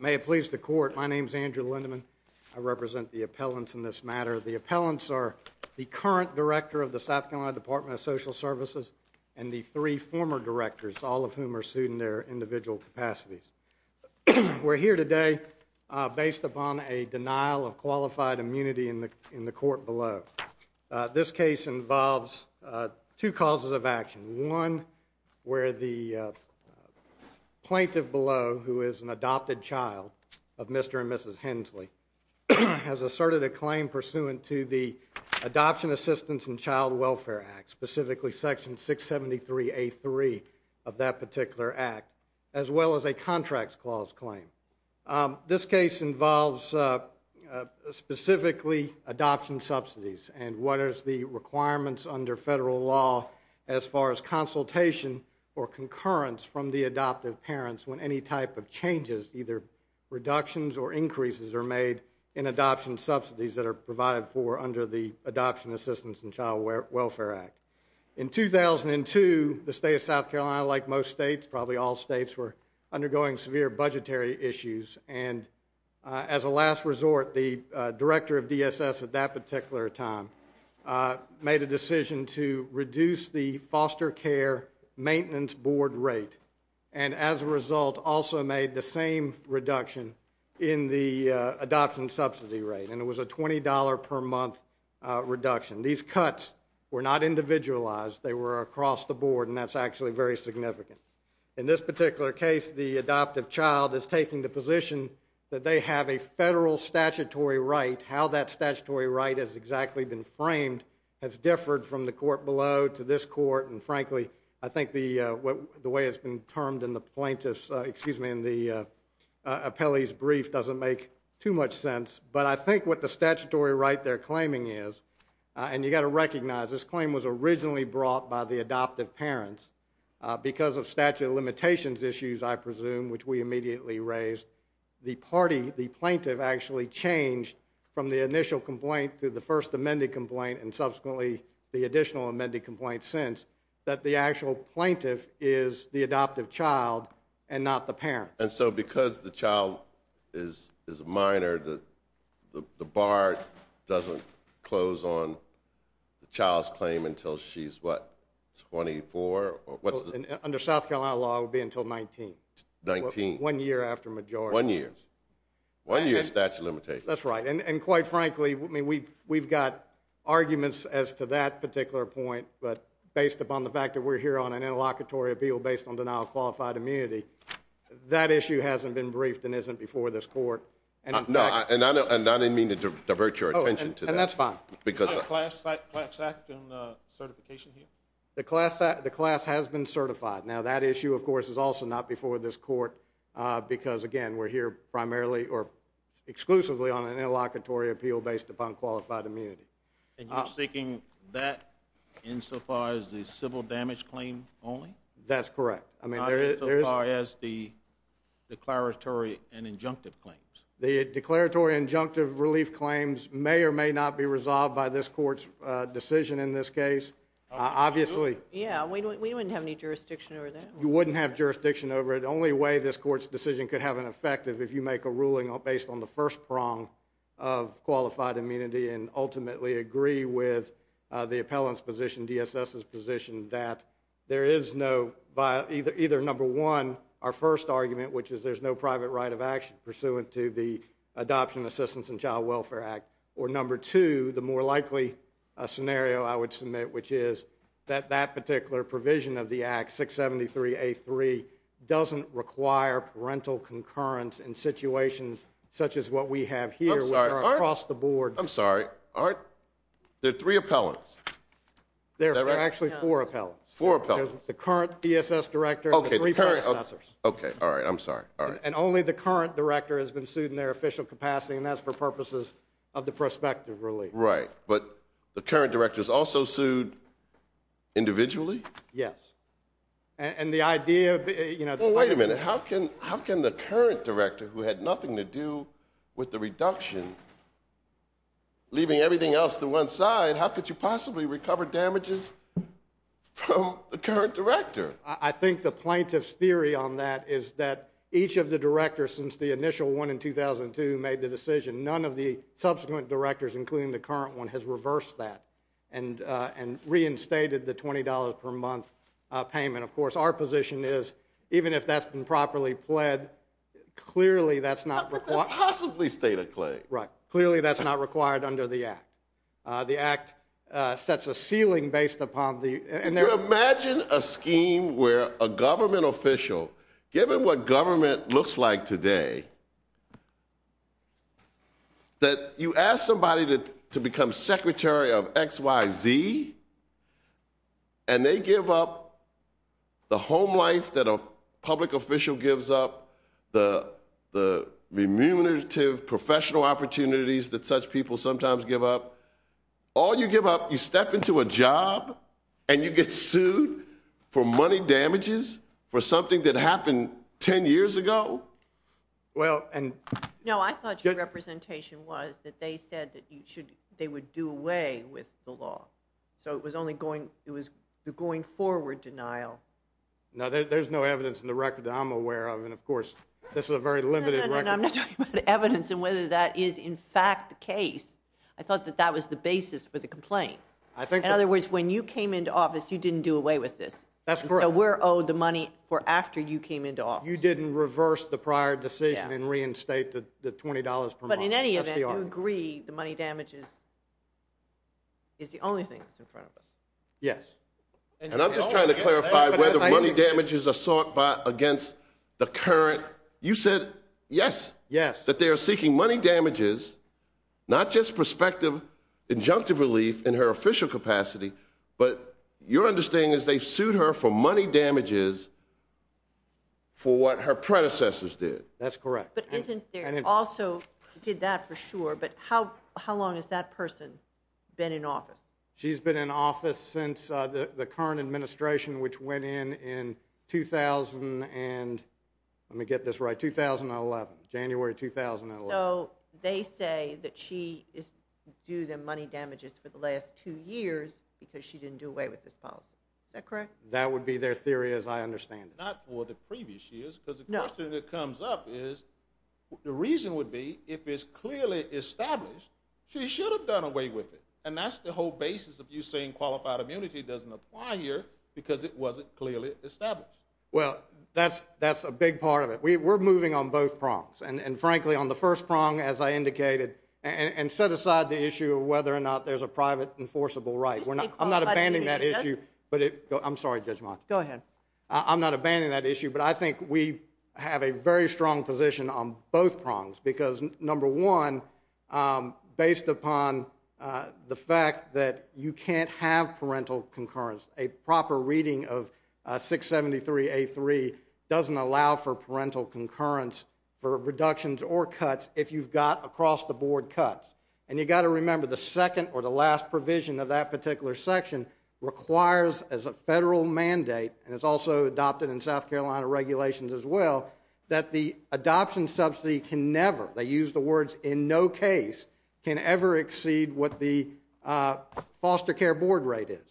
May it please the court, my name is Andrew Lindeman. I represent the appellants in this matter. The appellants are the current director of the South Carolina Department of Social Services and the three former directors, all of whom are sued in their individual capacities. We're here today based upon a denial of qualified immunity in the court below. This case involves two causes of action. One, where the plaintiff below, who is an adopted child of Mr. and Mrs. Hensley, has asserted a claim pursuant to the Adoption Assistance and Child Welfare Act, specifically Section 673A3 of that particular act, as well as a contracts clause claim. This case involves specifically adoption subsidies and what is the requirements under federal law as far as consultation or concurrence from the adoptive parents when any type of changes, either reductions or increases are made in adoption subsidies that are provided for under the Adoption Assistance and Child Welfare Act. In 2002, the state of South Carolina, like most states, probably all states, were undergoing severe budgetary issues, and as a last resort, the director of DSS at that particular time made a decision to reduce the foster care maintenance board rate and as a result also made the same reduction in the adoption subsidy rate, and it was a $20 per month reduction. These cuts were not individualized. They were across the board, and that's actually very significant. In this particular case, the adoptive child is taking the position that they have a federal statutory right. How that statutory right has exactly been framed has differed from the court below to this court, and frankly I think the way it's been termed in the plaintiff's, excuse me, in the appellee's brief doesn't make too much sense, but I think what the statutory right they're claiming is, and you've got to recognize this claim was originally brought by the adoptive parents because of statute of limitations issues, I presume, which we immediately raised. The plaintiff actually changed from the initial complaint to the first amended complaint and subsequently the additional amended complaint since that the actual plaintiff is the adoptive child and not the parent. And so because the child is a minor, the bar doesn't close on the child's claim until she's, what, 24? Under South Carolina law, it would be until 19. 19. One year after majority. One year. One year statute of limitations. That's right, and quite frankly, we've got arguments as to that particular point, but based upon the fact that we're here on an interlocutory appeal based on denial of qualified immunity, that issue hasn't been briefed and isn't before this court. No, and I didn't mean to divert your attention to that. Oh, and that's fine. Do you have a class act and certification here? The class has been certified. Now, that issue, of course, is also not before this court because, again, we're here primarily or exclusively on an interlocutory appeal based upon qualified immunity. And you're seeking that insofar as the civil damage claim only? That's correct. Not insofar as the declaratory and injunctive claims. The declaratory and injunctive relief claims may or may not be resolved by this court's decision in this case, obviously. Yeah, we wouldn't have any jurisdiction over that. You wouldn't have jurisdiction over it. The only way this court's decision could have an effect is if you make a ruling based on the first prong of qualified immunity and ultimately agree with the appellant's position, DSS's position, that there is no either number one, our first argument, which is there's no private right of action pursuant to the Adoption, Assistance, and Child Welfare Act, or number two, the more likely scenario I would submit, which is that that particular provision of the Act, 673A3, doesn't require parental concurrence in situations such as what we have here. I'm sorry. There are three appellants. There are actually four appellants. Four appellants. The current DSS director and the three predecessors. Okay. All right. I'm sorry. All right. And only the current director has been sued in their official capacity, and that's for purposes of the prospective relief. Right, but the current director is also sued individually? Yes. Wait a minute. How can the current director, who had nothing to do with the reduction, leaving everything else to one side, how could you possibly recover damages from the current director? I think the plaintiff's theory on that is that each of the directors, since the initial one in 2002 made the decision, none of the subsequent directors, including the current one, has reversed that and reinstated the $20 per month payment. Of course, our position is, even if that's been properly pled, clearly that's not required. How could that possibly stay the claim? Right. Clearly that's not required under the Act. The Act sets a ceiling based upon the act. You imagine a scheme where a government official, given what government looks like today, that you ask somebody to become secretary of X, Y, Z, and they give up the home life that a public official gives up, the remunerative professional opportunities that such people sometimes give up. All you give up, you step into a job and you get sued for money damages for something that happened 10 years ago? No, I thought your representation was that they said they would do away with the law. So it was the going forward denial. No, there's no evidence in the record that I'm aware of, and of course this is a very limited record. No, I'm not talking about evidence and whether that is in fact the case. I thought that that was the basis for the complaint. In other words, when you came into office, you didn't do away with this. That's correct. So we're owed the money for after you came into office. You didn't reverse the prior decision and reinstate the $20 per month. But in any event, you agree the money damages is the only thing that's in front of us. Yes. And I'm just trying to clarify whether money damages are sought against the current. You said yes. Yes. That they are seeking money damages, not just prospective injunctive relief in her official capacity, but your understanding is they sued her for money damages for what her predecessors did. That's correct. But isn't there also did that for sure, but how long has that person been in office? She's been in office since the current administration, which went in in 2000 and, let me get this right, 2011, January 2011. So they say that she is due the money damages for the last two years because she didn't do away with this policy. Is that correct? That would be their theory as I understand it. Not for the previous years because the question that comes up is, the reason would be if it's clearly established, she should have done away with it. And that's the whole basis of you saying qualified immunity doesn't apply here because it wasn't clearly established. Well, that's a big part of it. We're moving on both prongs. And, frankly, on the first prong, as I indicated, and set aside the issue of whether or not there's a private enforceable right. I'm not abandoning that issue. I'm sorry, Judge Monk. Go ahead. I'm not abandoning that issue, but I think we have a very strong position on both prongs because, number one, based upon the fact that you can't have parental concurrence, a proper reading of 673A3 doesn't allow for parental concurrence for reductions or cuts if you've got across-the-board cuts. And you've got to remember the second or the last provision of that particular section requires as a federal mandate, and it's also adopted in South Carolina regulations as well, that the adoption subsidy can never, they use the words, in no case, can ever exceed what the foster care board rate is.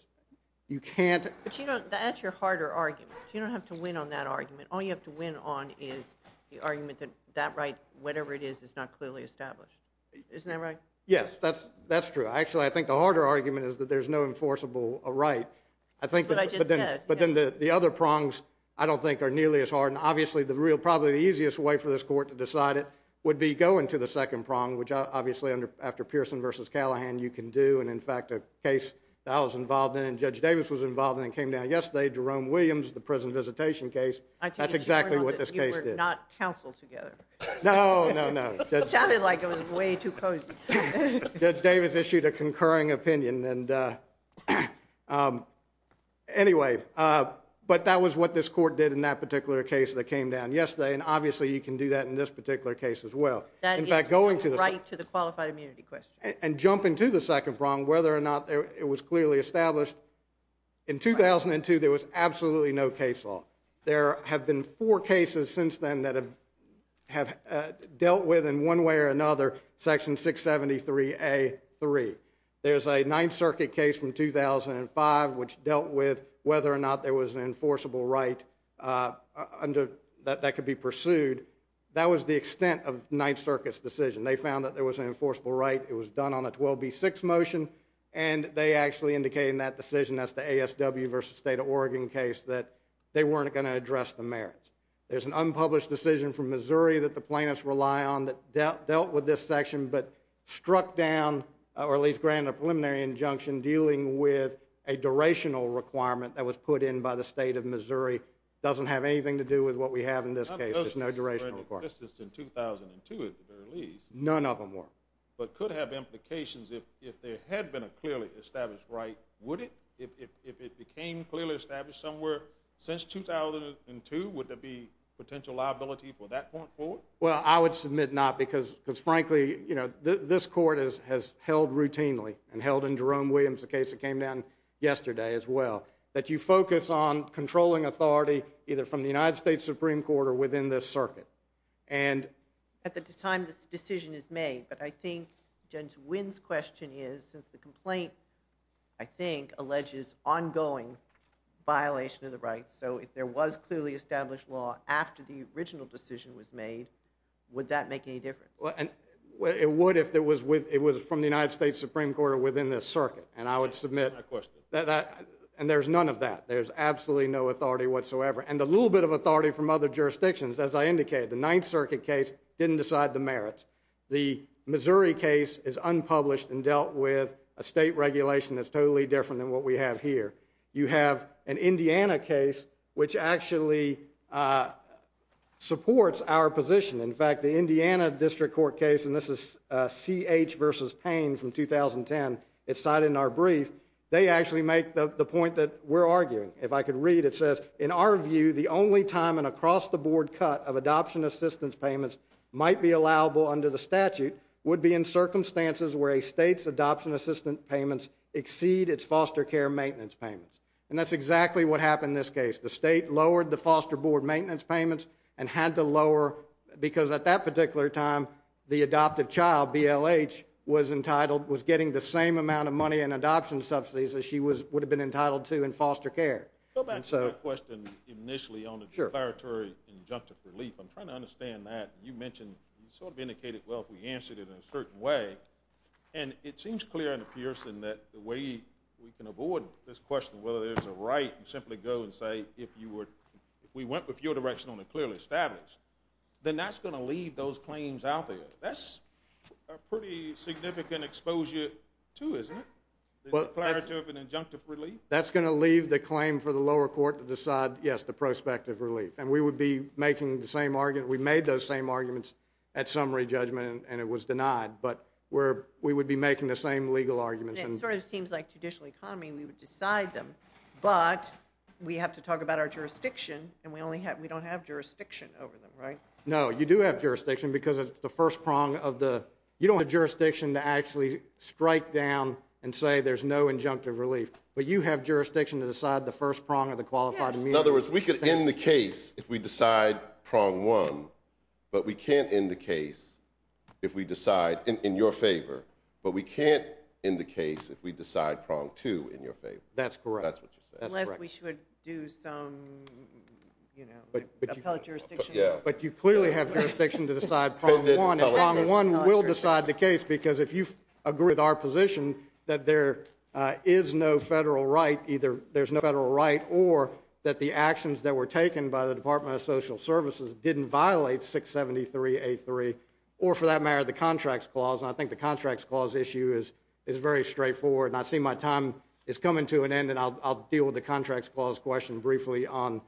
You can't. But that's your harder argument. You don't have to win on that argument. All you have to win on is the argument that that right, whatever it is, is not clearly established. Isn't that right? Yes, that's true. Actually, I think the harder argument is that there's no enforceable right. But I just said. But then the other prongs, I don't think, are nearly as hard. And, obviously, probably the easiest way for this court to decide it would be going to the second prong, which, obviously, after Pearson v. Callahan, you can do. And, in fact, a case that I was involved in and Judge Davis was involved in and came down yesterday, Jerome Williams, the prison visitation case, that's exactly what this case did. You were not counseled together. No, no, no. It sounded like it was way too cozy. Judge Davis issued a concurring opinion. Anyway, but that was what this court did in that particular case that came down yesterday. And, obviously, you can do that in this particular case as well. That is a right to the qualified immunity question. And jumping to the second prong, whether or not it was clearly established, in 2002 there was absolutely no case law. There have been four cases since then that have dealt with, in one way or another, Section 673A.3. There's a Ninth Circuit case from 2005 which dealt with whether or not there was an enforceable right that could be pursued. That was the extent of Ninth Circuit's decision. They found that there was an enforceable right. It was done on a 12B6 motion, and they actually indicated in that decision, that's the ASW v. State of Oregon case, that they weren't going to address the merits. There's an unpublished decision from Missouri that the plaintiffs rely on that dealt with this section but struck down, or at least granted a preliminary injunction, dealing with a durational requirement that was put in by the State of Missouri. It really doesn't have anything to do with what we have in this case. There's no durational requirement. None of those cases were in existence in 2002, at the very least. None of them were. But could have implications if there had been a clearly established right, would it? If it became clearly established somewhere since 2002, would there be potential liability for that point forward? Well, I would submit not because, frankly, this Court has held routinely, and held in Jerome Williams' case that came down yesterday as well, that you focus on controlling authority either from the United States Supreme Court or within this circuit. At the time this decision is made, but I think Judge Wynn's question is, since the complaint, I think, alleges ongoing violation of the rights, so if there was clearly established law after the original decision was made, would that make any difference? It would if it was from the United States Supreme Court or within this circuit. And I would submit, and there's none of that. There's absolutely no authority whatsoever. And a little bit of authority from other jurisdictions, as I indicated. The Ninth Circuit case didn't decide the merits. The Missouri case is unpublished and dealt with a state regulation that's totally different than what we have here. You have an Indiana case, which actually supports our position. In fact, the Indiana District Court case, and this is C.H. v. Payne from 2010, it's cited in our brief, they actually make the point that we're arguing. If I could read, it says, in our view, the only time an across-the-board cut of adoption assistance payments might be allowable under the statute would be in circumstances where a state's adoption assistance payments exceed its foster care maintenance payments. And that's exactly what happened in this case. The state lowered the foster board maintenance payments and had to lower, because at that particular time, the adoptive child, BLH, was entitled, was getting the same amount of money in adoption subsidies that she would have been entitled to in foster care. Go back to my question initially on the declaratory injunctive relief. I'm trying to understand that. You mentioned, you sort of indicated, well, if we answered it in a certain way. And it seems clear in the Pearson that the way we can avoid this question, whether there's a right to simply go and say, if we went with your direction on a clearly established, then that's going to leave those claims out there. That's a pretty significant exposure, too, isn't it, declarative and injunctive relief? That's going to leave the claim for the lower court to decide, yes, the prospective relief. And we would be making the same argument. We made those same arguments at summary judgment, and it was denied. But we would be making the same legal arguments. And it sort of seems like judicial economy, we would decide them. But we have to talk about our jurisdiction, and we don't have jurisdiction over them, right? No, you do have jurisdiction because it's the first prong of the – you don't have jurisdiction to actually strike down and say there's no injunctive relief. But you have jurisdiction to decide the first prong of the qualified immunity. In other words, we could end the case if we decide prong one, but we can't end the case if we decide – in your favor – but we can't end the case if we decide prong two in your favor. That's correct. That's what you said. Unless we should do some, you know, appellate jurisdiction. But you clearly have jurisdiction to decide prong one, and prong one will decide the case because if you agree with our position that there is no federal right, either there's no federal right or that the actions that were taken by the Department of Social Services didn't violate 673A3 or, for that matter, the Contracts Clause. And I think the Contracts Clause issue is very straightforward. And I see my time is coming to an end, and I'll deal with the Contracts Clause question briefly on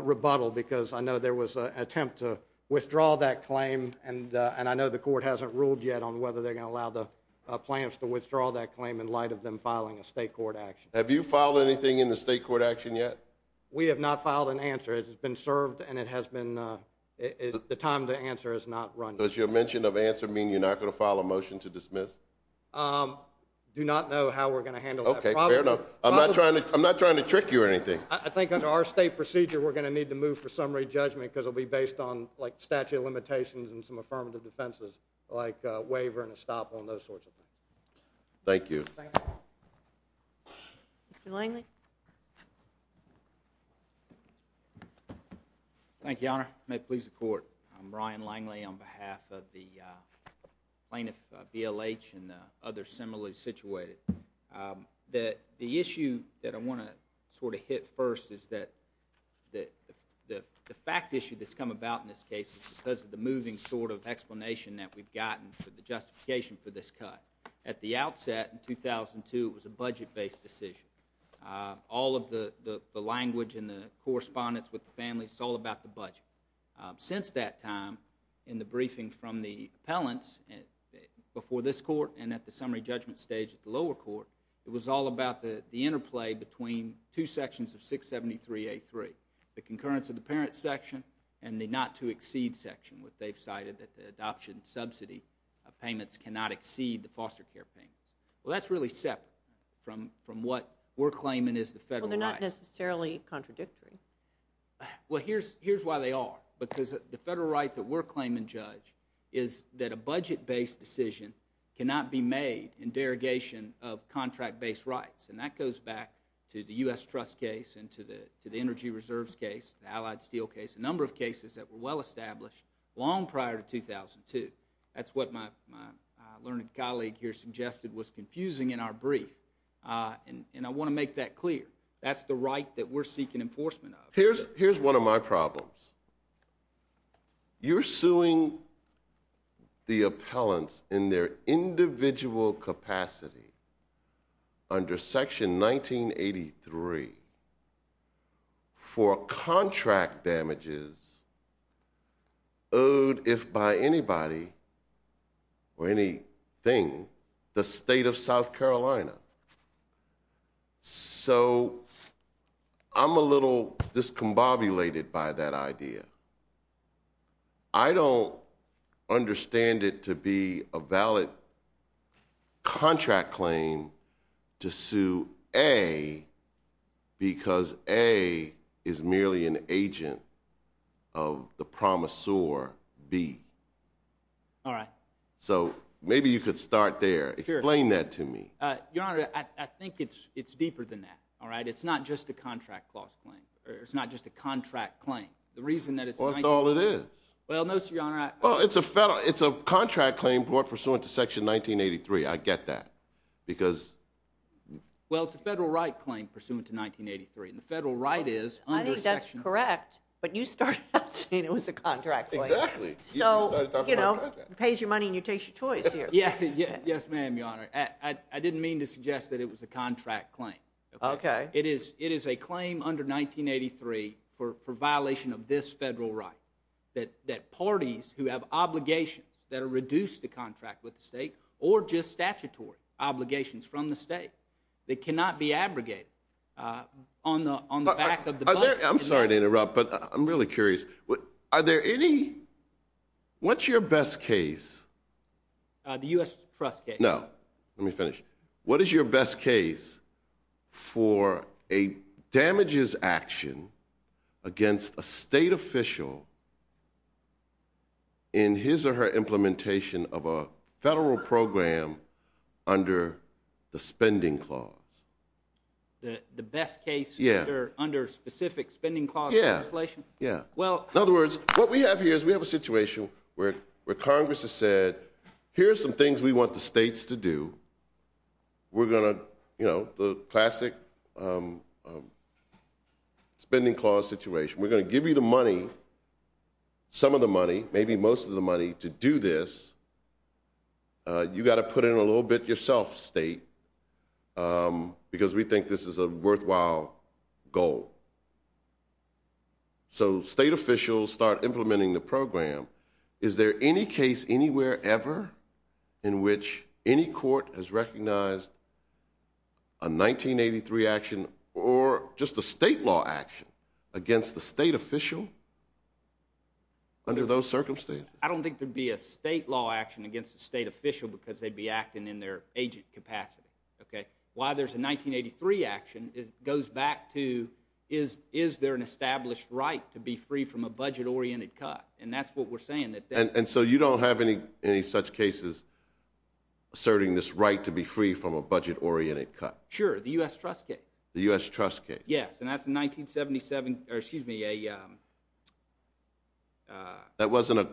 rebuttal because I know there was an attempt to withdraw that claim, and I know the court hasn't ruled yet on whether they're going to allow the plaintiffs to withdraw that claim in light of them filing a state court action. Have you filed anything in the state court action yet? We have not filed an answer. It has been served, and the time to answer has not run yet. Does your mention of answer mean you're not going to file a motion to dismiss? I do not know how we're going to handle that. Okay, fair enough. I'm not trying to trick you or anything. I think under our state procedure we're going to need to move for summary judgment because it will be based on, like, statute of limitations and some affirmative defenses like waiver and estoppel and those sorts of things. Thank you. Thank you. Mr. Langley? Thank you, Your Honor. May it please the court. I'm Ryan Langley on behalf of the plaintiff, BLH, and others similarly situated. The issue that I want to sort of hit first is that the fact issue that's come about in this case is because of the moving sort of explanation that we've gotten for the justification for this cut. At the outset in 2002 it was a budget-based decision. All of the language and the correspondence with the families, it's all about the budget. Since that time, in the briefing from the appellants before this court and at the summary judgment stage at the lower court, it was all about the interplay between two sections of 673A3, the concurrence of the parent section and the not-to-exceed section, which they've cited that the adoption subsidy payments cannot exceed the foster care payments. Well, that's really separate from what we're claiming is the federal right. Well, they're not necessarily contradictory. Well, here's why they are. Because the federal right that we're claiming, Judge, is that a budget-based decision cannot be made in derogation of contract-based rights. And that goes back to the U.S. Trust case and to the Energy Reserves case, the Allied Steel case, a number of cases that were well-established long prior to 2002. That's what my learned colleague here suggested was confusing in our brief. And I want to make that clear. That's the right that we're seeking enforcement of. Here's one of my problems. You're suing the appellants in their individual capacity under Section 1983 for contract damages owed, if by anybody or anything, the State of South Carolina. So I'm a little discombobulated by that idea. I don't understand it to be a valid contract claim to sue A because A is merely an agent of the promisor B. All right. So maybe you could start there. Explain that to me. Your Honor, I think it's deeper than that. It's not just a contract clause claim. It's not just a contract claim. The reason that it's 1983. Well, it's all it is. Well, no, sir, Your Honor. Well, it's a contract claim brought pursuant to Section 1983. I get that because... Well, it's a federal right claim pursuant to 1983, and the federal right is under Section 1983. I think that's correct, but you started out saying it was a contract claim. Exactly. So, you know, pays your money and you take your choice here. Yes, ma'am, Your Honor. I didn't mean to suggest that it was a contract claim. Okay. It is a claim under 1983 for violation of this federal right that parties who have obligations that are reduced to contract with the state or just statutory obligations from the state that cannot be abrogated on the back of the budget. I'm sorry to interrupt, but I'm really curious. Are there any... What's your best case? The U.S. Trust case. No. Let me finish. What is your best case for a damages action against a state official in his or her implementation of a federal program under the spending clause? The best case under specific spending clause legislation? Yes. In other words, what we have here is we have a situation where Congress has said, here are some things we want the states to do. We're going to, you know, the classic spending clause situation. We're going to give you the money, some of the money, maybe most of the money to do this. You've got to put in a little bit yourself, state, because we think this is a worthwhile goal. So state officials start implementing the program. Is there any case anywhere ever in which any court has recognized a 1983 action or just a state law action against a state official under those circumstances? I don't think there would be a state law action against a state official because they'd be acting in their agent capacity. Why there's a 1983 action goes back to is there an established right to be free from a budget-oriented cut? And that's what we're saying. And so you don't have any such cases asserting this right to be free from a budget-oriented cut? Sure, the U.S. Trust case. The U.S. Trust case. Yes, and that's a 1977, or excuse me, a... That wasn't a...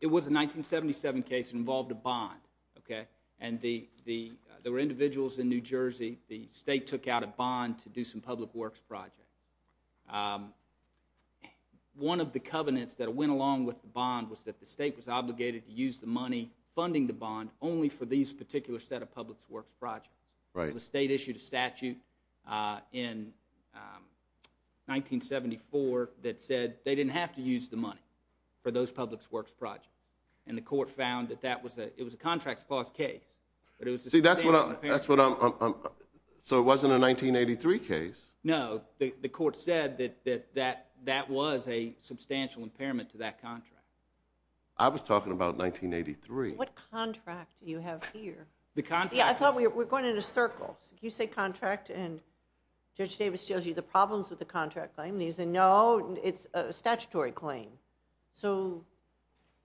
It was a 1977 case that involved a bond, okay? And there were individuals in New Jersey, the state took out a bond to do some public works projects. One of the covenants that went along with the bond was that the state was obligated to use the money funding the bond only for these particular set of public works projects. The state issued a statute in 1974 that said they didn't have to use the money for those public works projects. And the court found that it was a contract clause case. See, that's what I'm... So it wasn't a 1983 case? No, the court said that that was a substantial impairment to that contract. I was talking about 1983. What contract do you have here? The contract... Yeah, I thought we were going in a circle. You say contract, and Judge Davis shows you the problems with the contract claim, and you say, no, it's a statutory claim. So...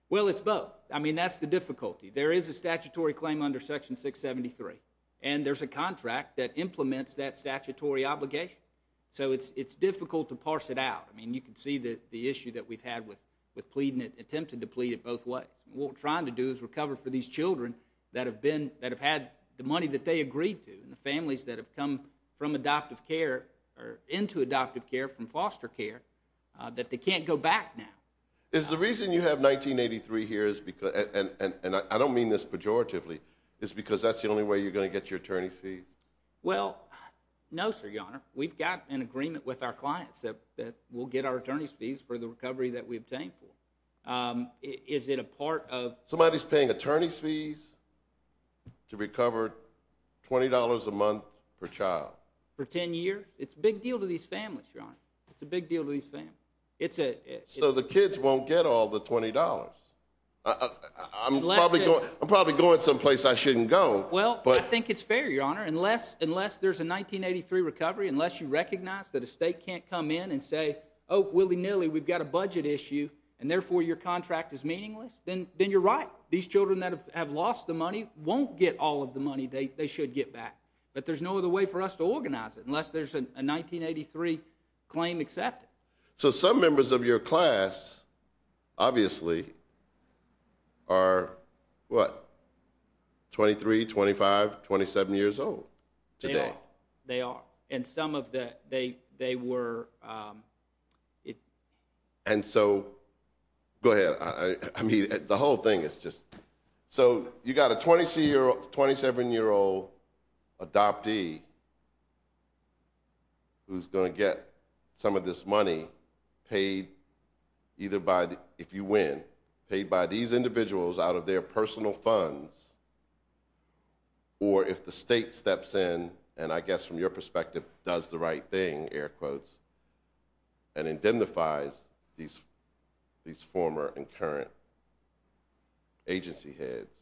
Well, it's both. I mean, that's the difficulty. There is a statutory claim under Section 673, and there's a contract that implements that statutory obligation. So it's difficult to parse it out. I mean, you can see the issue that we've had with pleading it, attempting to plead it both ways. What we're trying to do is recover for these children that have had the money that they agreed to and the families that have come from adoptive care or into adoptive care from foster care that they can't go back now. Is the reason you have 1983 here, and I don't mean this pejoratively, is because that's the only way you're going to get your attorney's fees? Well, no, sir, Your Honor. We've got an agreement with our clients that we'll get our attorney's fees for the recovery that we obtained for. Is it a part of... Somebody's paying attorney's fees to recover $20 a month per child. For 10 years? It's a big deal to these families, Your Honor. It's a big deal to these families. So the kids won't get all the $20. I'm probably going someplace I shouldn't go. Well, I think it's fair, Your Honor. Unless there's a 1983 recovery, unless you recognize that a state can't come in and say, oh, willy-nilly, we've got a budget issue, and therefore your contract is meaningless, then you're right. These children that have lost the money won't get all of the money they should get back. But there's no other way for us to organize it unless there's a 1983 claim accepted. So some members of your class, obviously, are what? 23, 25, 27 years old today? They are. And some of them, they were... And so, go ahead. I mean, the whole thing is just... So you've got a 27-year-old adoptee who's going to get some of this money paid either by, if you win, paid by these individuals out of their personal funds, or if the state steps in, and I guess from your perspective, does the right thing, air quotes, and indemnifies these former and current agency heads,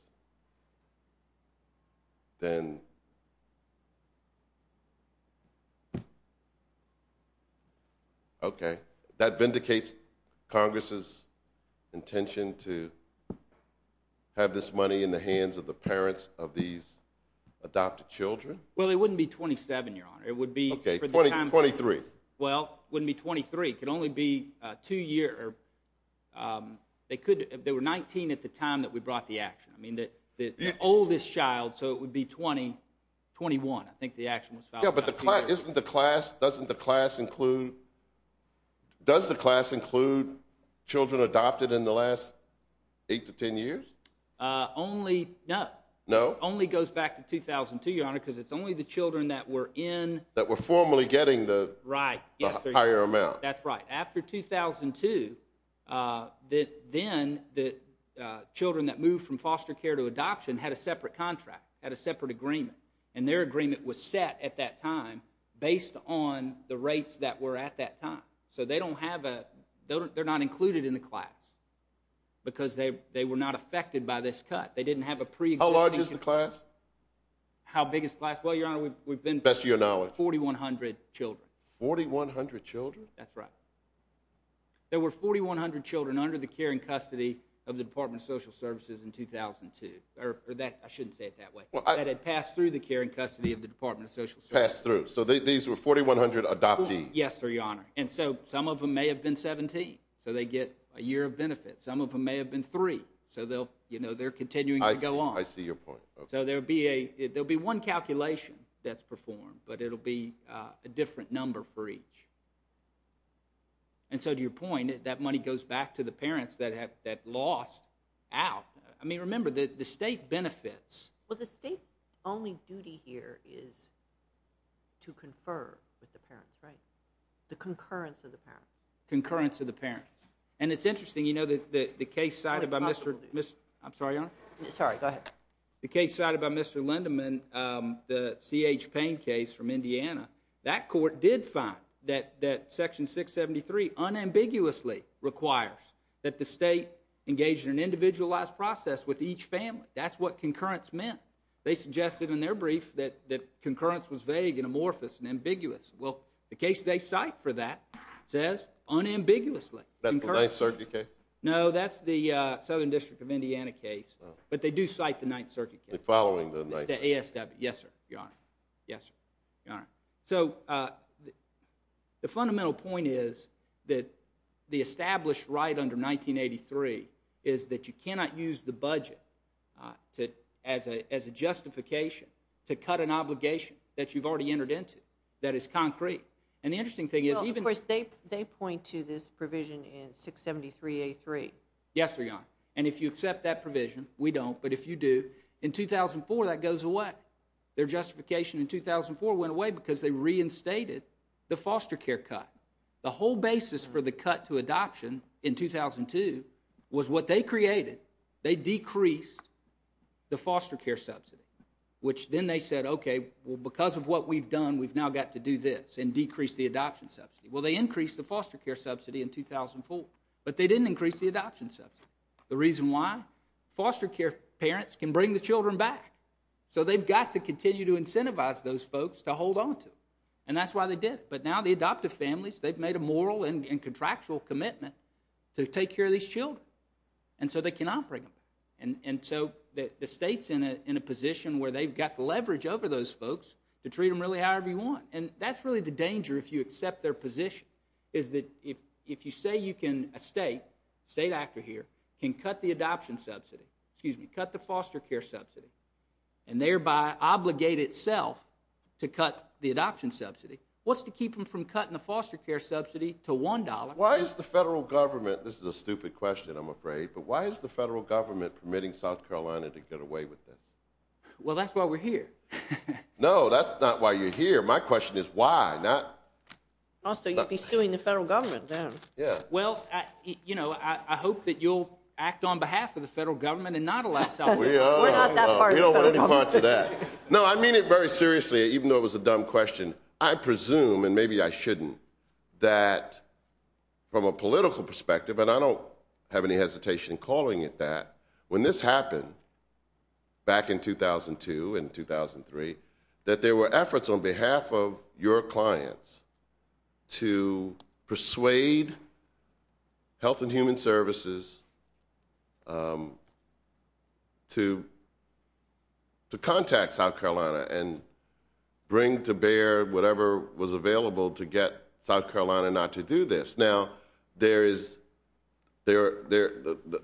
then... Okay. That vindicates Congress' intention to have this money in the hands of the parents of these adopted children? Well, it wouldn't be 27, Your Honor. Okay, 23. Well, it wouldn't be 23. It could only be two-year... They were 19 at the time that we brought the action. I mean, the oldest child, so it would be 20, 21. I think the action was filed about two years ago. Yeah, but isn't the class... Doesn't the class include... Does the class include children adopted in the last 8 to 10 years? Only... No. No? It only goes back to 2002, Your Honor, because it's only the children that were in... That were formally getting the higher amount. That's right. After 2002, then the children that moved from foster care to adoption had a separate contract, had a separate agreement, and their agreement was set at that time based on the rates that were at that time. So they don't have a... They're not included in the class because they were not affected by this cut. They didn't have a preexisting... How large is the class? How big is the class? Well, Your Honor, we've been... Best of your knowledge. 4,100 children. 4,100 children? That's right. There were 4,100 children under the care and custody of the Department of Social Services in 2002. I shouldn't say it that way. That had passed through the care and custody of the Department of Social Services. Passed through. So these were 4,100 adoptees. Yes, sir, Your Honor. And so some of them may have been 17, so they get a year of benefit. Some of them may have been 3, so they're continuing to go on. I see your point. So there'll be one calculation that's performed, but it'll be a different number for each. And so to your point, that money goes back to the parents that lost out. I mean, remember, the state benefits. Well, the state's only duty here is to confer with the parents, right? The concurrence of the parents. Concurrence of the parents. And it's interesting, you know, the case cited by Mr... I'm sorry, Your Honor? Sorry, go ahead. The case cited by Mr. Lindeman, the CH Payne case from Indiana, that court did find that Section 673 unambiguously requires that the state engage in an individualized process with each family. That's what concurrence meant. They suggested in their brief that concurrence was vague and amorphous and ambiguous. Well, the case they cite for that says unambiguously. That's the Ninth Circuit case? No, that's the Southern District of Indiana case. Oh. But they do cite the Ninth Circuit case. Following the Ninth Circuit. The ASW. Yes, sir, Your Honor. Yes, sir, Your Honor. So the fundamental point is that the established right under 1983 is that you cannot use the budget as a justification to cut an obligation that you've already entered into And the interesting thing is even... Well, of course, they point to this provision in 673A3. Yes, sir, Your Honor. And if you accept that provision, we don't, but if you do, in 2004, that goes away. Their justification in 2004 went away because they reinstated the foster care cut. The whole basis for the cut to adoption in 2002 was what they created. They decreased the foster care subsidy, which then they said, okay, well, because of what we've done, we've now got to do this and decrease the adoption subsidy. Well, they increased the foster care subsidy in 2004, but they didn't increase the adoption subsidy. The reason why? Foster care parents can bring the children back, so they've got to continue to incentivize those folks to hold on to them. And that's why they did it. But now the adoptive families, they've made a moral and contractual commitment to take care of these children. And so they cannot bring them back. And so the state's in a position where they've got the leverage over those folks to treat them really however you want. And that's really the danger if you accept their position, is that if you say you can... A state, state actor here, can cut the adoption subsidy, excuse me, cut the foster care subsidy, and thereby obligate itself to cut the adoption subsidy, what's to keep them from cutting the foster care subsidy to $1? Why is the federal government... This is a stupid question, I'm afraid, but why is the federal government permitting South Carolina to get away with this? Well, that's why we're here. No, that's not why you're here. My question is why, not... Also, you'd be suing the federal government then. Yeah. Well, you know, I hope that you'll act on behalf of the federal government and not allow South Carolina... We're not that far... We don't want any parts of that. No, I mean it very seriously, even though it was a dumb question. I presume, and maybe I shouldn't, that from a political perspective, and I don't have any hesitation in calling it that, when this happened back in 2002 and 2003, that there were efforts on behalf of your clients to persuade Health and Human Services to contact South Carolina and bring to bear whatever was available to get South Carolina not to do this. Now, there is... The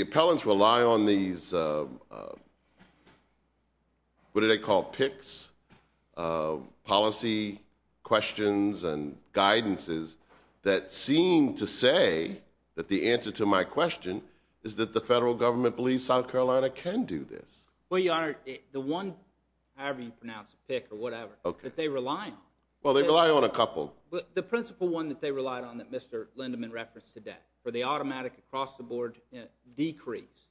appellants rely on these... What do they call it? These picks, policy questions and guidances that seem to say that the answer to my question is that the federal government believes South Carolina can do this. Well, Your Honor, the one, however you pronounce it, pick or whatever, that they rely on... Well, they rely on a couple. The principal one that they relied on that Mr. Lindeman referenced today for the automatic across-the-board decrease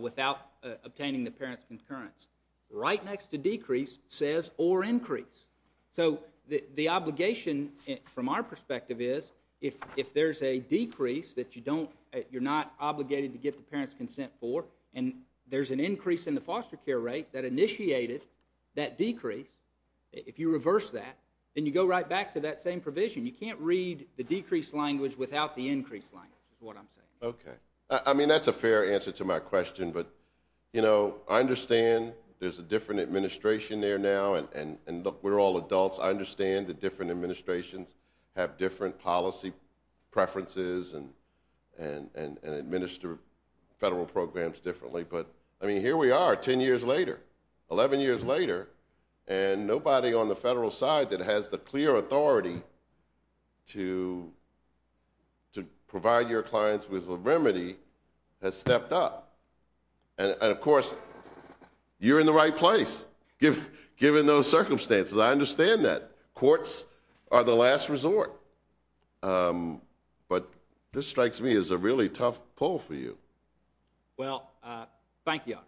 without obtaining the parents' concurrence. Right next to decrease says or increase. So the obligation, from our perspective, is if there's a decrease that you don't... You're not obligated to get the parents' consent for and there's an increase in the foster care rate that initiated that decrease, if you reverse that, then you go right back to that same provision. You can't read the decrease language without the increase language is what I'm saying. Okay. I mean, that's a fair answer to my question, but, you know, I understand there's a different administration there now, and look, we're all adults. I understand that different administrations have different policy preferences and administer federal programs differently, but, I mean, here we are 10 years later, 11 years later, and nobody on the federal side that has the clear authority to provide your clients with a remedy has stepped up. And, of course, you're in the right place, given those circumstances. I understand that. Courts are the last resort. But this strikes me as a really tough poll for you. Well, thank you.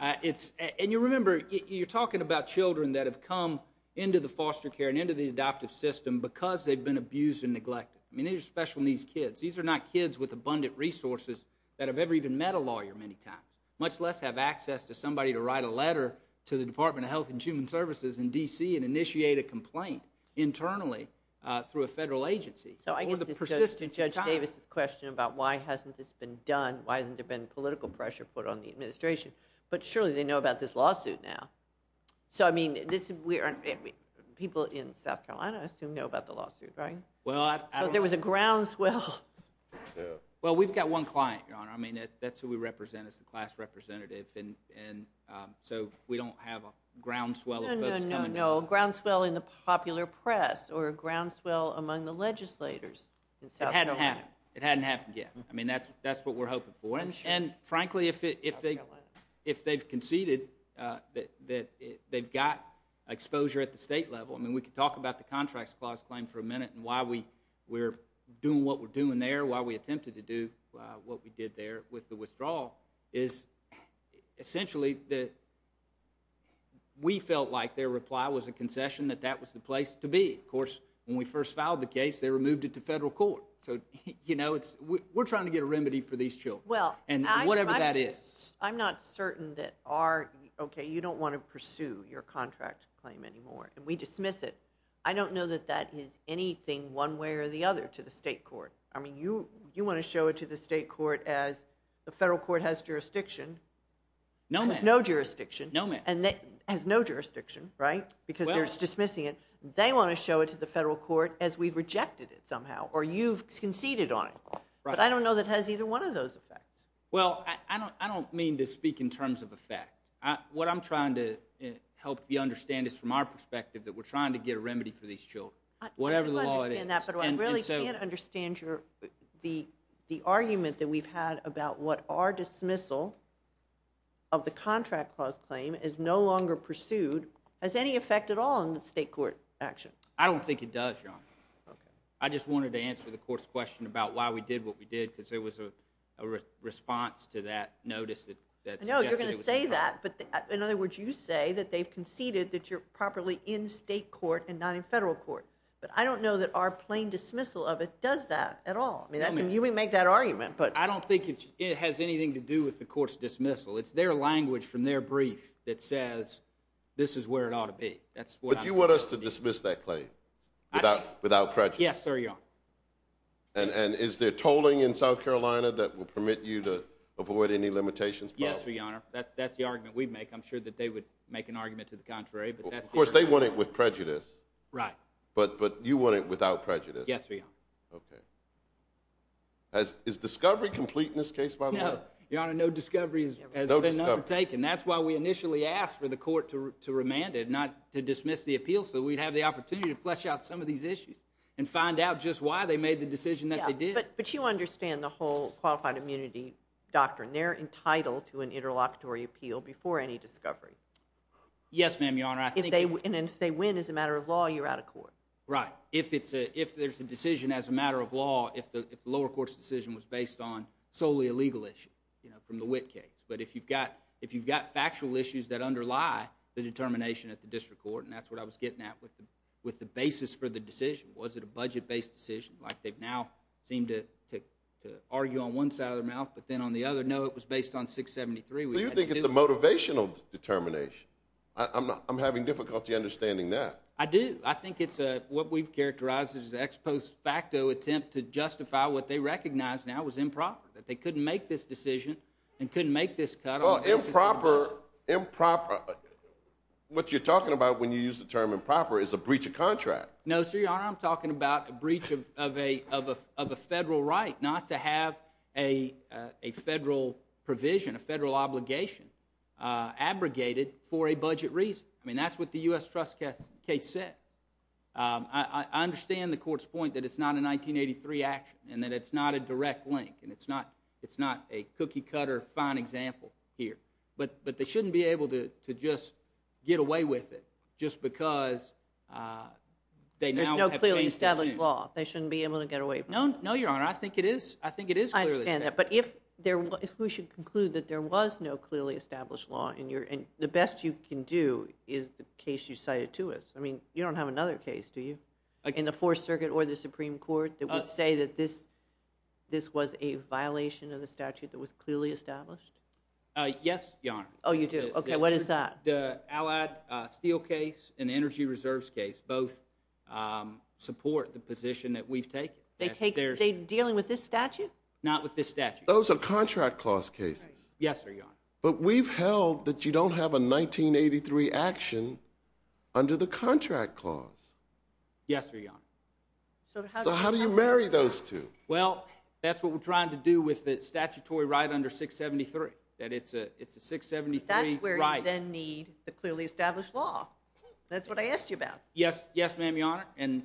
And you remember, you're talking about children that have come into the foster care and into the adoptive system because they've been abused and neglected. I mean, these are special needs kids. These are not kids with abundant resources that have ever even met a lawyer many times, much less have access to somebody to write a letter to the Department of Health and Human Services in D.C. and initiate a complaint internally through a federal agency over the persistence of time. So I guess this goes to Judge Davis's question about why hasn't this been done, why hasn't there been political pressure put on the administration? But surely they know about this lawsuit now. So, I mean, people in South Carolina, I assume, know about the lawsuit, right? Well, I don't know. So there was a groundswell. Well, we've got one client, Your Honor. I mean, that's who we represent as the class representative. And so we don't have a groundswell of votes coming in. No, no, no. A groundswell in the popular press or a groundswell among the legislators in South Carolina. It hadn't happened yet. I mean, that's what we're hoping for. And frankly, if they've conceded that they've got exposure at the state level, I mean, we could talk about the Contracts Clause claim for a minute and why we're doing what we're doing there, why we attempted to do what we did there with the withdrawal, is essentially that we felt like their reply was a concession that that was the place to be. Of course, when we first filed the case, they removed it to federal court. So, you know, we're trying to get a remedy for these children. And whatever that is. I'm not certain that our... Okay, you don't want to pursue your contract claim anymore. And we dismiss it. I don't know that that is anything one way or the other to the state court. I mean, you want to show it to the state court as the federal court has jurisdiction. No, ma'am. Has no jurisdiction. No, ma'am. Has no jurisdiction, right? Because they're dismissing it. They want to show it to the federal court as we've rejected it somehow or you've conceded on it. But I don't know that it has either one of those effects. Well, I don't mean to speak in terms of effect. What I'm trying to help you understand is from our perspective that we're trying to get a remedy for these children. Whatever the law is. I do understand that, but I really can't understand the argument that we've had about what our dismissal of the contract clause claim is no longer pursued. Has any effect at all on the state court action? I don't think it does, Your Honor. I just wanted to answer the court's question about why we did what we did because there was a response to that notice that suggested it was a crime. I know you're going to say that, but in other words, you say that they've conceded that you're properly in state court and not in federal court. But I don't know that our plain dismissal of it does that at all. I mean, you may make that argument, but... I don't think it has anything to do with the court's dismissal. It's their language from their brief that says this is where it ought to be. But you want us to dismiss that claim without prejudice? Yes, sir, Your Honor. And is there tolling in South Carolina that will permit you to avoid any limitations? Yes, Your Honor. That's the argument we'd make. I'm sure that they would make an argument to the contrary. Of course, they want it with prejudice. Right. But you want it without prejudice? Yes, Your Honor. Okay. Is discovery complete in this case, by the way? No. Your Honor, no discovery has been undertaken. That's why we initially asked for the court to remand it, not to dismiss the appeal, so we'd have the opportunity to flesh out some of these issues and find out just why they made the decision that they did. Yeah, but you understand the whole qualified immunity doctrine. They're entitled to an interlocutory appeal before any discovery. Yes, ma'am, Your Honor. And if they win as a matter of law, you're out of court. Right. If there's a decision as a matter of law, if the lower court's decision was based on solely a legal issue, you know, from the Witt case, but if you've got factual issues that underlie the determination at the district court, and that's what I was getting at with the basis for the decision. Was it a budget-based decision, like they've now seemed to argue on one side of their mouth, but then on the other, no, it was based on 673. So you think it's a motivational determination. I'm having difficulty understanding that. I do. I think it's what we've characterized as an ex post facto attempt to justify what they recognize now as improper, that they couldn't make this decision and couldn't make this cut on the basis of a budget. Well, improper... What you're talking about when you use the term improper is a breach of contract. No, sir, Your Honor, I'm talking about a breach of a federal right, not to have a federal provision, a federal obligation abrogated for a budget reason. I mean, that's what the U.S. Trust case said. I understand the court's point that it's not a 1983 action and that it's not a direct link and it's not a cookie-cutter fine example here, but they shouldn't be able to just get away with it just because they now have changed their tune. They shouldn't be able to get away with it. No, Your Honor, I think it is clearly stated. I understand that, but if we should conclude that there was no clearly established law, the best you can do is the case you cited to us. I mean, you don't have another case, do you, in the Fourth Circuit or the Supreme Court that would say that this was a violation of the statute that was clearly established? Yes, Your Honor. Oh, you do? Okay, what is that? The Allied Steel case and the Energy Reserves case both support the position that we've taken. They're dealing with this statute? Not with this statute. Those are contract clause cases. Yes, Your Honor. But we've held that you don't have a 1983 action under the contract clause. Yes, Your Honor. So how do you marry those two? Well, that's what we're trying to do with the statutory right under 673, that it's a 673 right. That's where you then need the clearly established law. That's what I asked you about. Yes, ma'am, Your Honor, and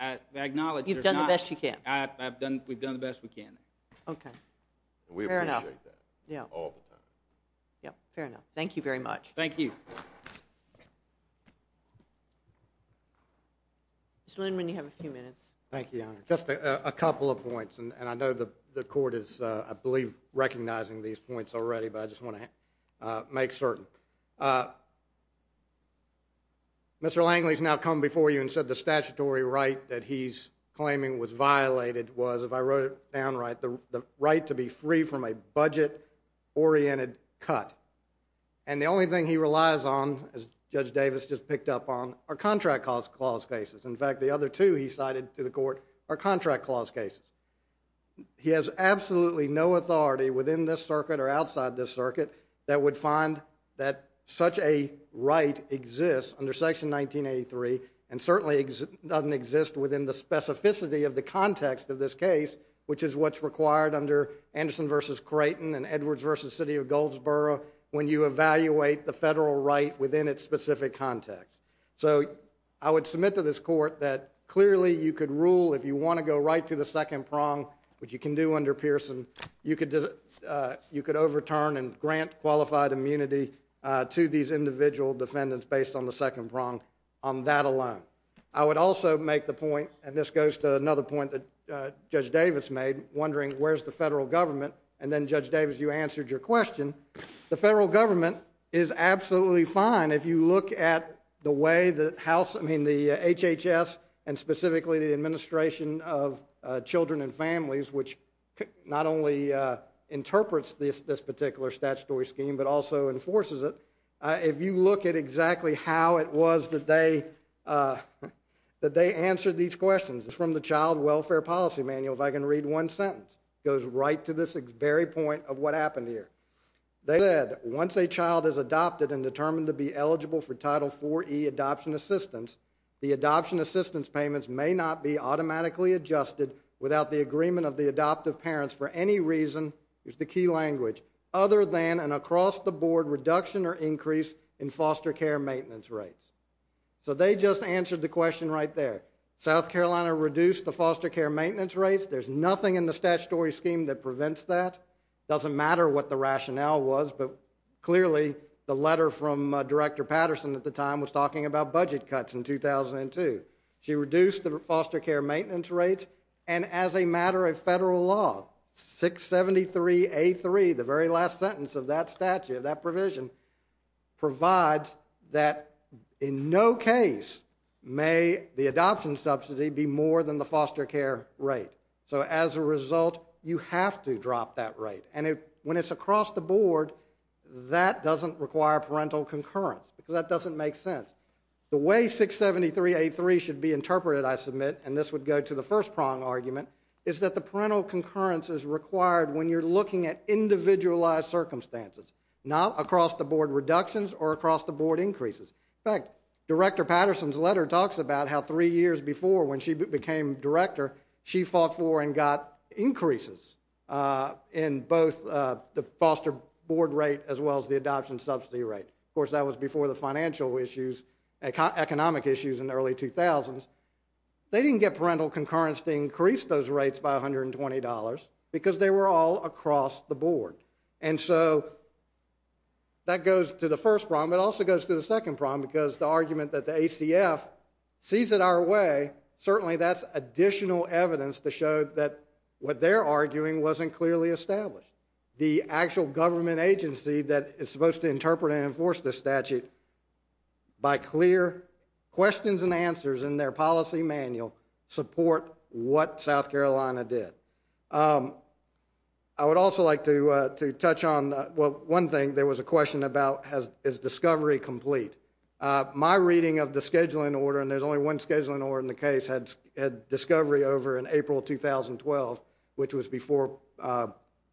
I acknowledge there's not... We've done the best we can. Okay, fair enough. We appreciate that all the time. Yep, fair enough. Thank you very much. Thank you. Mr. Lindman, you have a few minutes. Thank you, Your Honor. Just a couple of points, and I know the court is, I believe, recognizing these points already, but I just want to make certain. Mr. Langley's now come before you and said the statutory right that he's claiming was violated was, if I wrote it down right, the right to be free from a budget-oriented cut. And the only thing he relies on, as Judge Davis just picked up on, are contract clause cases. In fact, the other two he cited to the court are contract clause cases. He has absolutely no authority within this circuit or outside this circuit that would find that such a right exists under Section 1983 and certainly doesn't exist within the specificity of the context of this case, which is what's required under Anderson v. Creighton and Edwards v. City of Goldsboro when you evaluate the federal right within its specific context. So I would submit to this court that clearly you could rule, if you want to go right to the second prong, which you can do under Pearson, you could overturn and grant qualified immunity to these individual defendants based on the second prong on that alone. I would also make the point, and this goes to another point that Judge Davis made, wondering where's the federal government? And then, Judge Davis, you answered your question. The federal government is absolutely fine if you look at the way the HHS and specifically the Administration of Children and Families, which not only interprets this particular statutory scheme but also enforces it, if you look at exactly how it was that they answered these questions. It's from the Child Welfare Policy Manual, if I can read one sentence. It goes right to this very point of what happened here. They said, once a child is adopted and determined to be eligible for Title IV-E adoption assistance, the adoption assistance payments may not be automatically adjusted without the agreement of the adoptive parents for any reason, here's the key language, other than an across-the-board reduction or increase in foster care maintenance rates. So they just answered the question right there. South Carolina reduced the foster care maintenance rates. There's nothing in the statutory scheme that prevents that. It doesn't matter what the rationale was, but clearly the letter from Director Patterson at the time was talking about budget cuts in 2002. She reduced the foster care maintenance rates, and as a matter of federal law, 673A3, the very last sentence of that statute, that provision, provides that in no case may the adoption subsidy be more than the foster care rate. So as a result, you have to drop that rate. And when it's across-the-board, that doesn't require parental concurrence, because that doesn't make sense. The way 673A3 should be interpreted, I submit, and this would go to the first-prong argument, is that the parental concurrence is required when you're looking at individualized circumstances, not across-the-board reductions or across-the-board increases. In fact, Director Patterson's letter talks about how 3 years before, when she became director, she fought for and got increases in both the foster board rate as well as the adoption subsidy rate. Of course, that was before the financial issues, economic issues in the early 2000s. They didn't get parental concurrence to increase those rates by $120, because they were all across-the-board. And so that goes to the first problem. It also goes to the second problem, because the argument that the ACF sees it our way, certainly that's additional evidence to show that what they're arguing wasn't clearly established. The actual government agency that is supposed to interpret and enforce this statute by clear questions and answers in their policy manual support what South Carolina did. I would also like to touch on one thing. There was a question about, is discovery complete? My reading of the scheduling order, and there's only one scheduling order in the case, had discovery over in April 2012, which was before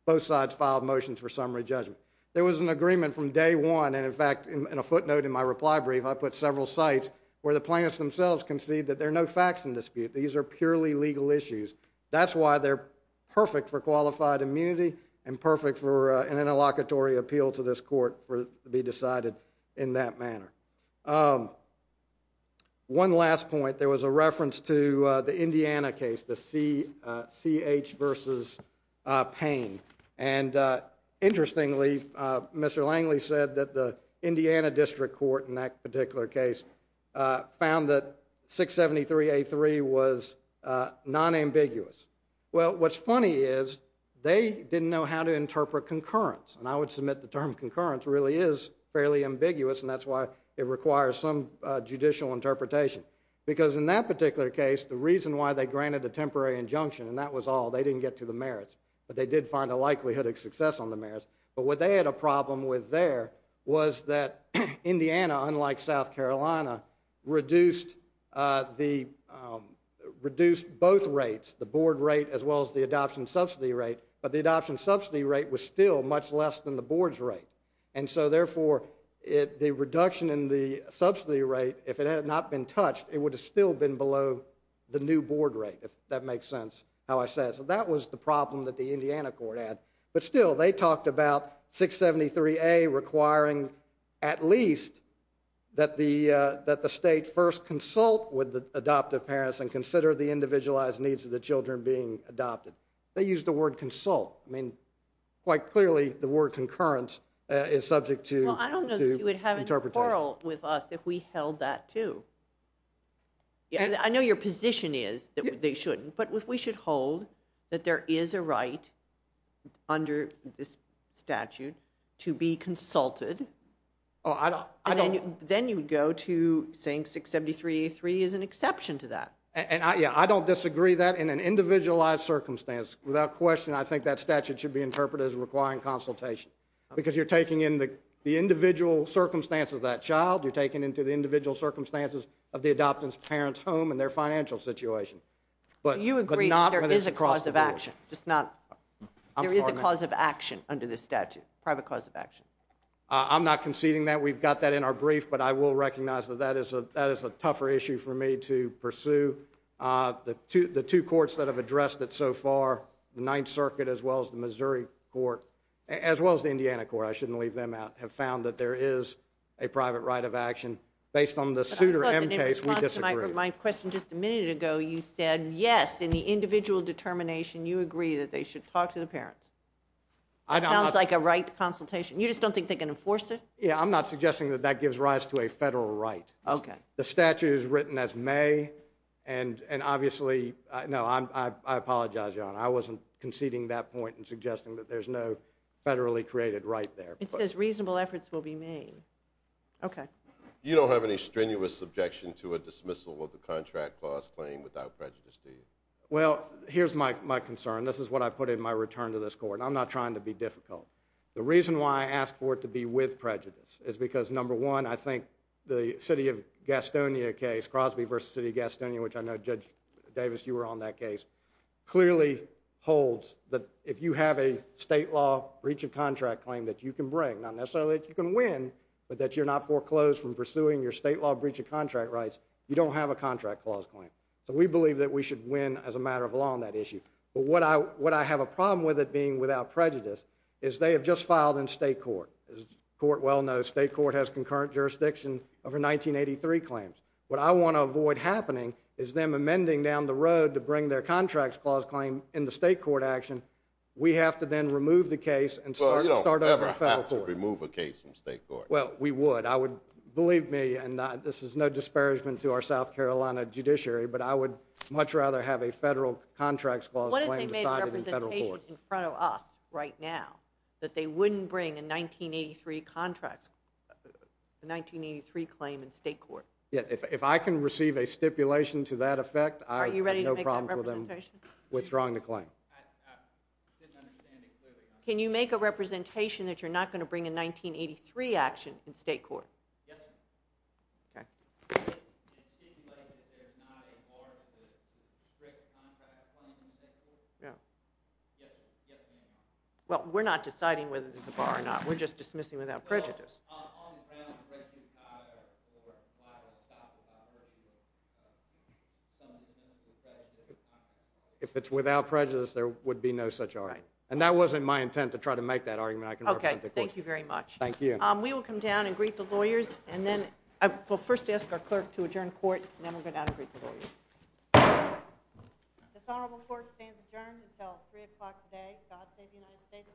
both sides filed motions for summary judgment. There was an agreement from day one, and in fact, in a footnote in my reply brief, I put several sites where the plaintiffs themselves concede that there are no facts in dispute. These are purely legal issues. That's why they're perfect for qualified immunity and perfect for an interlocutory appeal to this court to be decided in that manner. One last point. There was a reference to the Indiana case, the C.H. v. Payne. Interestingly, Mr. Langley said that the Indiana District Court in that particular case found that 673A3 was non-ambiguous. Well, what's funny is they didn't know how to interpret concurrence, and I would submit the term concurrence really is fairly ambiguous, and that's why it requires some judicial interpretation. Because in that particular case, the reason why they granted a temporary injunction, and that was all, they didn't get to the merits, but they did find a likelihood of success on the merits. But what they had a problem with there was that Indiana, unlike South Carolina, reduced both rates, the board rate as well as the adoption subsidy rate, but the adoption subsidy rate was still much less than the board's rate. And so, therefore, the reduction in the subsidy rate, if it had not been touched, it would have still been below the new board rate, if that makes sense, how I said it. So that was the problem that the Indiana court had. But still, they talked about 673A requiring at least that the state first consult with the adoptive parents and consider the individualized needs of the children being adopted. They used the word consult. I mean, quite clearly, the word concurrence is subject to interpretation. Well, I don't know that you would have an quarrel with us if we held that, too. I know your position is that they shouldn't, but if we should hold that there is a right under this statute to be consulted, then you would go to saying 673A3 is an exception to that. Yeah, I don't disagree that. In an individualized circumstance, without question, I think that statute should be interpreted as requiring consultation, because you're taking in the individual circumstances of that child, you're taking into the individual circumstances of the adoptive parent's home and their financial situation. Do you agree that there is a cause of action? There is a cause of action under this statute, private cause of action. I'm not conceding that. We've got that in our brief, but I will recognize that that is a tougher issue for me to pursue. The two courts that have addressed it so far, the Ninth Circuit as well as the Missouri court, as well as the Indiana court, I shouldn't leave them out, have found that there is a private right of action. Based on the Souter M case, we disagree. My question, just a minute ago you said, yes, in the individual determination, you agree that they should talk to the parents. It sounds like a right to consultation. You just don't think they can enforce it? Yeah, I'm not suggesting that that gives rise to a federal right. Okay. The statute is written as may, and obviously, no, I apologize, Your Honor. I wasn't conceding that point and suggesting that there's no federally created right there. It says reasonable efforts will be made. Okay. You don't have any strenuous objection to a dismissal of the contract clause claim without prejudice, do you? Well, here's my concern. This is what I put in my return to this court. I'm not trying to be difficult. The reason why I asked for it to be with prejudice is because, number one, I think the city of Gastonia case, Crosby v. City of Gastonia, which I know, Judge Davis, you were on that case, clearly holds that if you have a state law breach of contract claim that you can bring, not necessarily that you can win, but that you're not foreclosed from pursuing your state law breach of contract rights, you don't have a contract clause claim. So we believe that we should win as a matter of law on that issue. But what I have a problem with it being without prejudice is they have just filed in state court. As the court well knows, state court has concurrent jurisdiction over 1983 claims. What I want to avoid happening is them amending down the road to bring their contracts clause claim in the state court action. We have to then remove the case and start over in federal court. Well, you don't ever have to remove a case from state court. Well, we would. I would, believe me, and this is no disparagement to our South Carolina judiciary, but I would much rather have a federal contracts clause claim decided in federal court. What if they made a representation in front of us right now that they wouldn't bring a 1983 contracts, a 1983 claim in state court? Yeah, if I can receive a stipulation to that effect, I have no problem with them withdrawing the claim. I didn't understand it clearly. Can you make a representation that you're not going to bring a 1983 action in state court? Yes, ma'am. Okay. Stipulating that there's not a bar to the strict contracts claim in state court? No. Yes, ma'am. Well, we're not deciding whether there's a bar or not. We're just dismissing without prejudice. Well, on the ground, the rest of your time or a lot of it stops without mercy with some dismissal of prejudice. If it's without prejudice, there would be no such argument. Right. And that wasn't my intent to try to make that argument. I can represent the court. Okay. Thank you very much. Thank you. We will come down and greet the lawyers, and then we'll first ask our clerk to adjourn court, and then we'll go down and greet the lawyers. This honorable court stands adjourned until 3 o'clock today. God save the United States and this honorable court.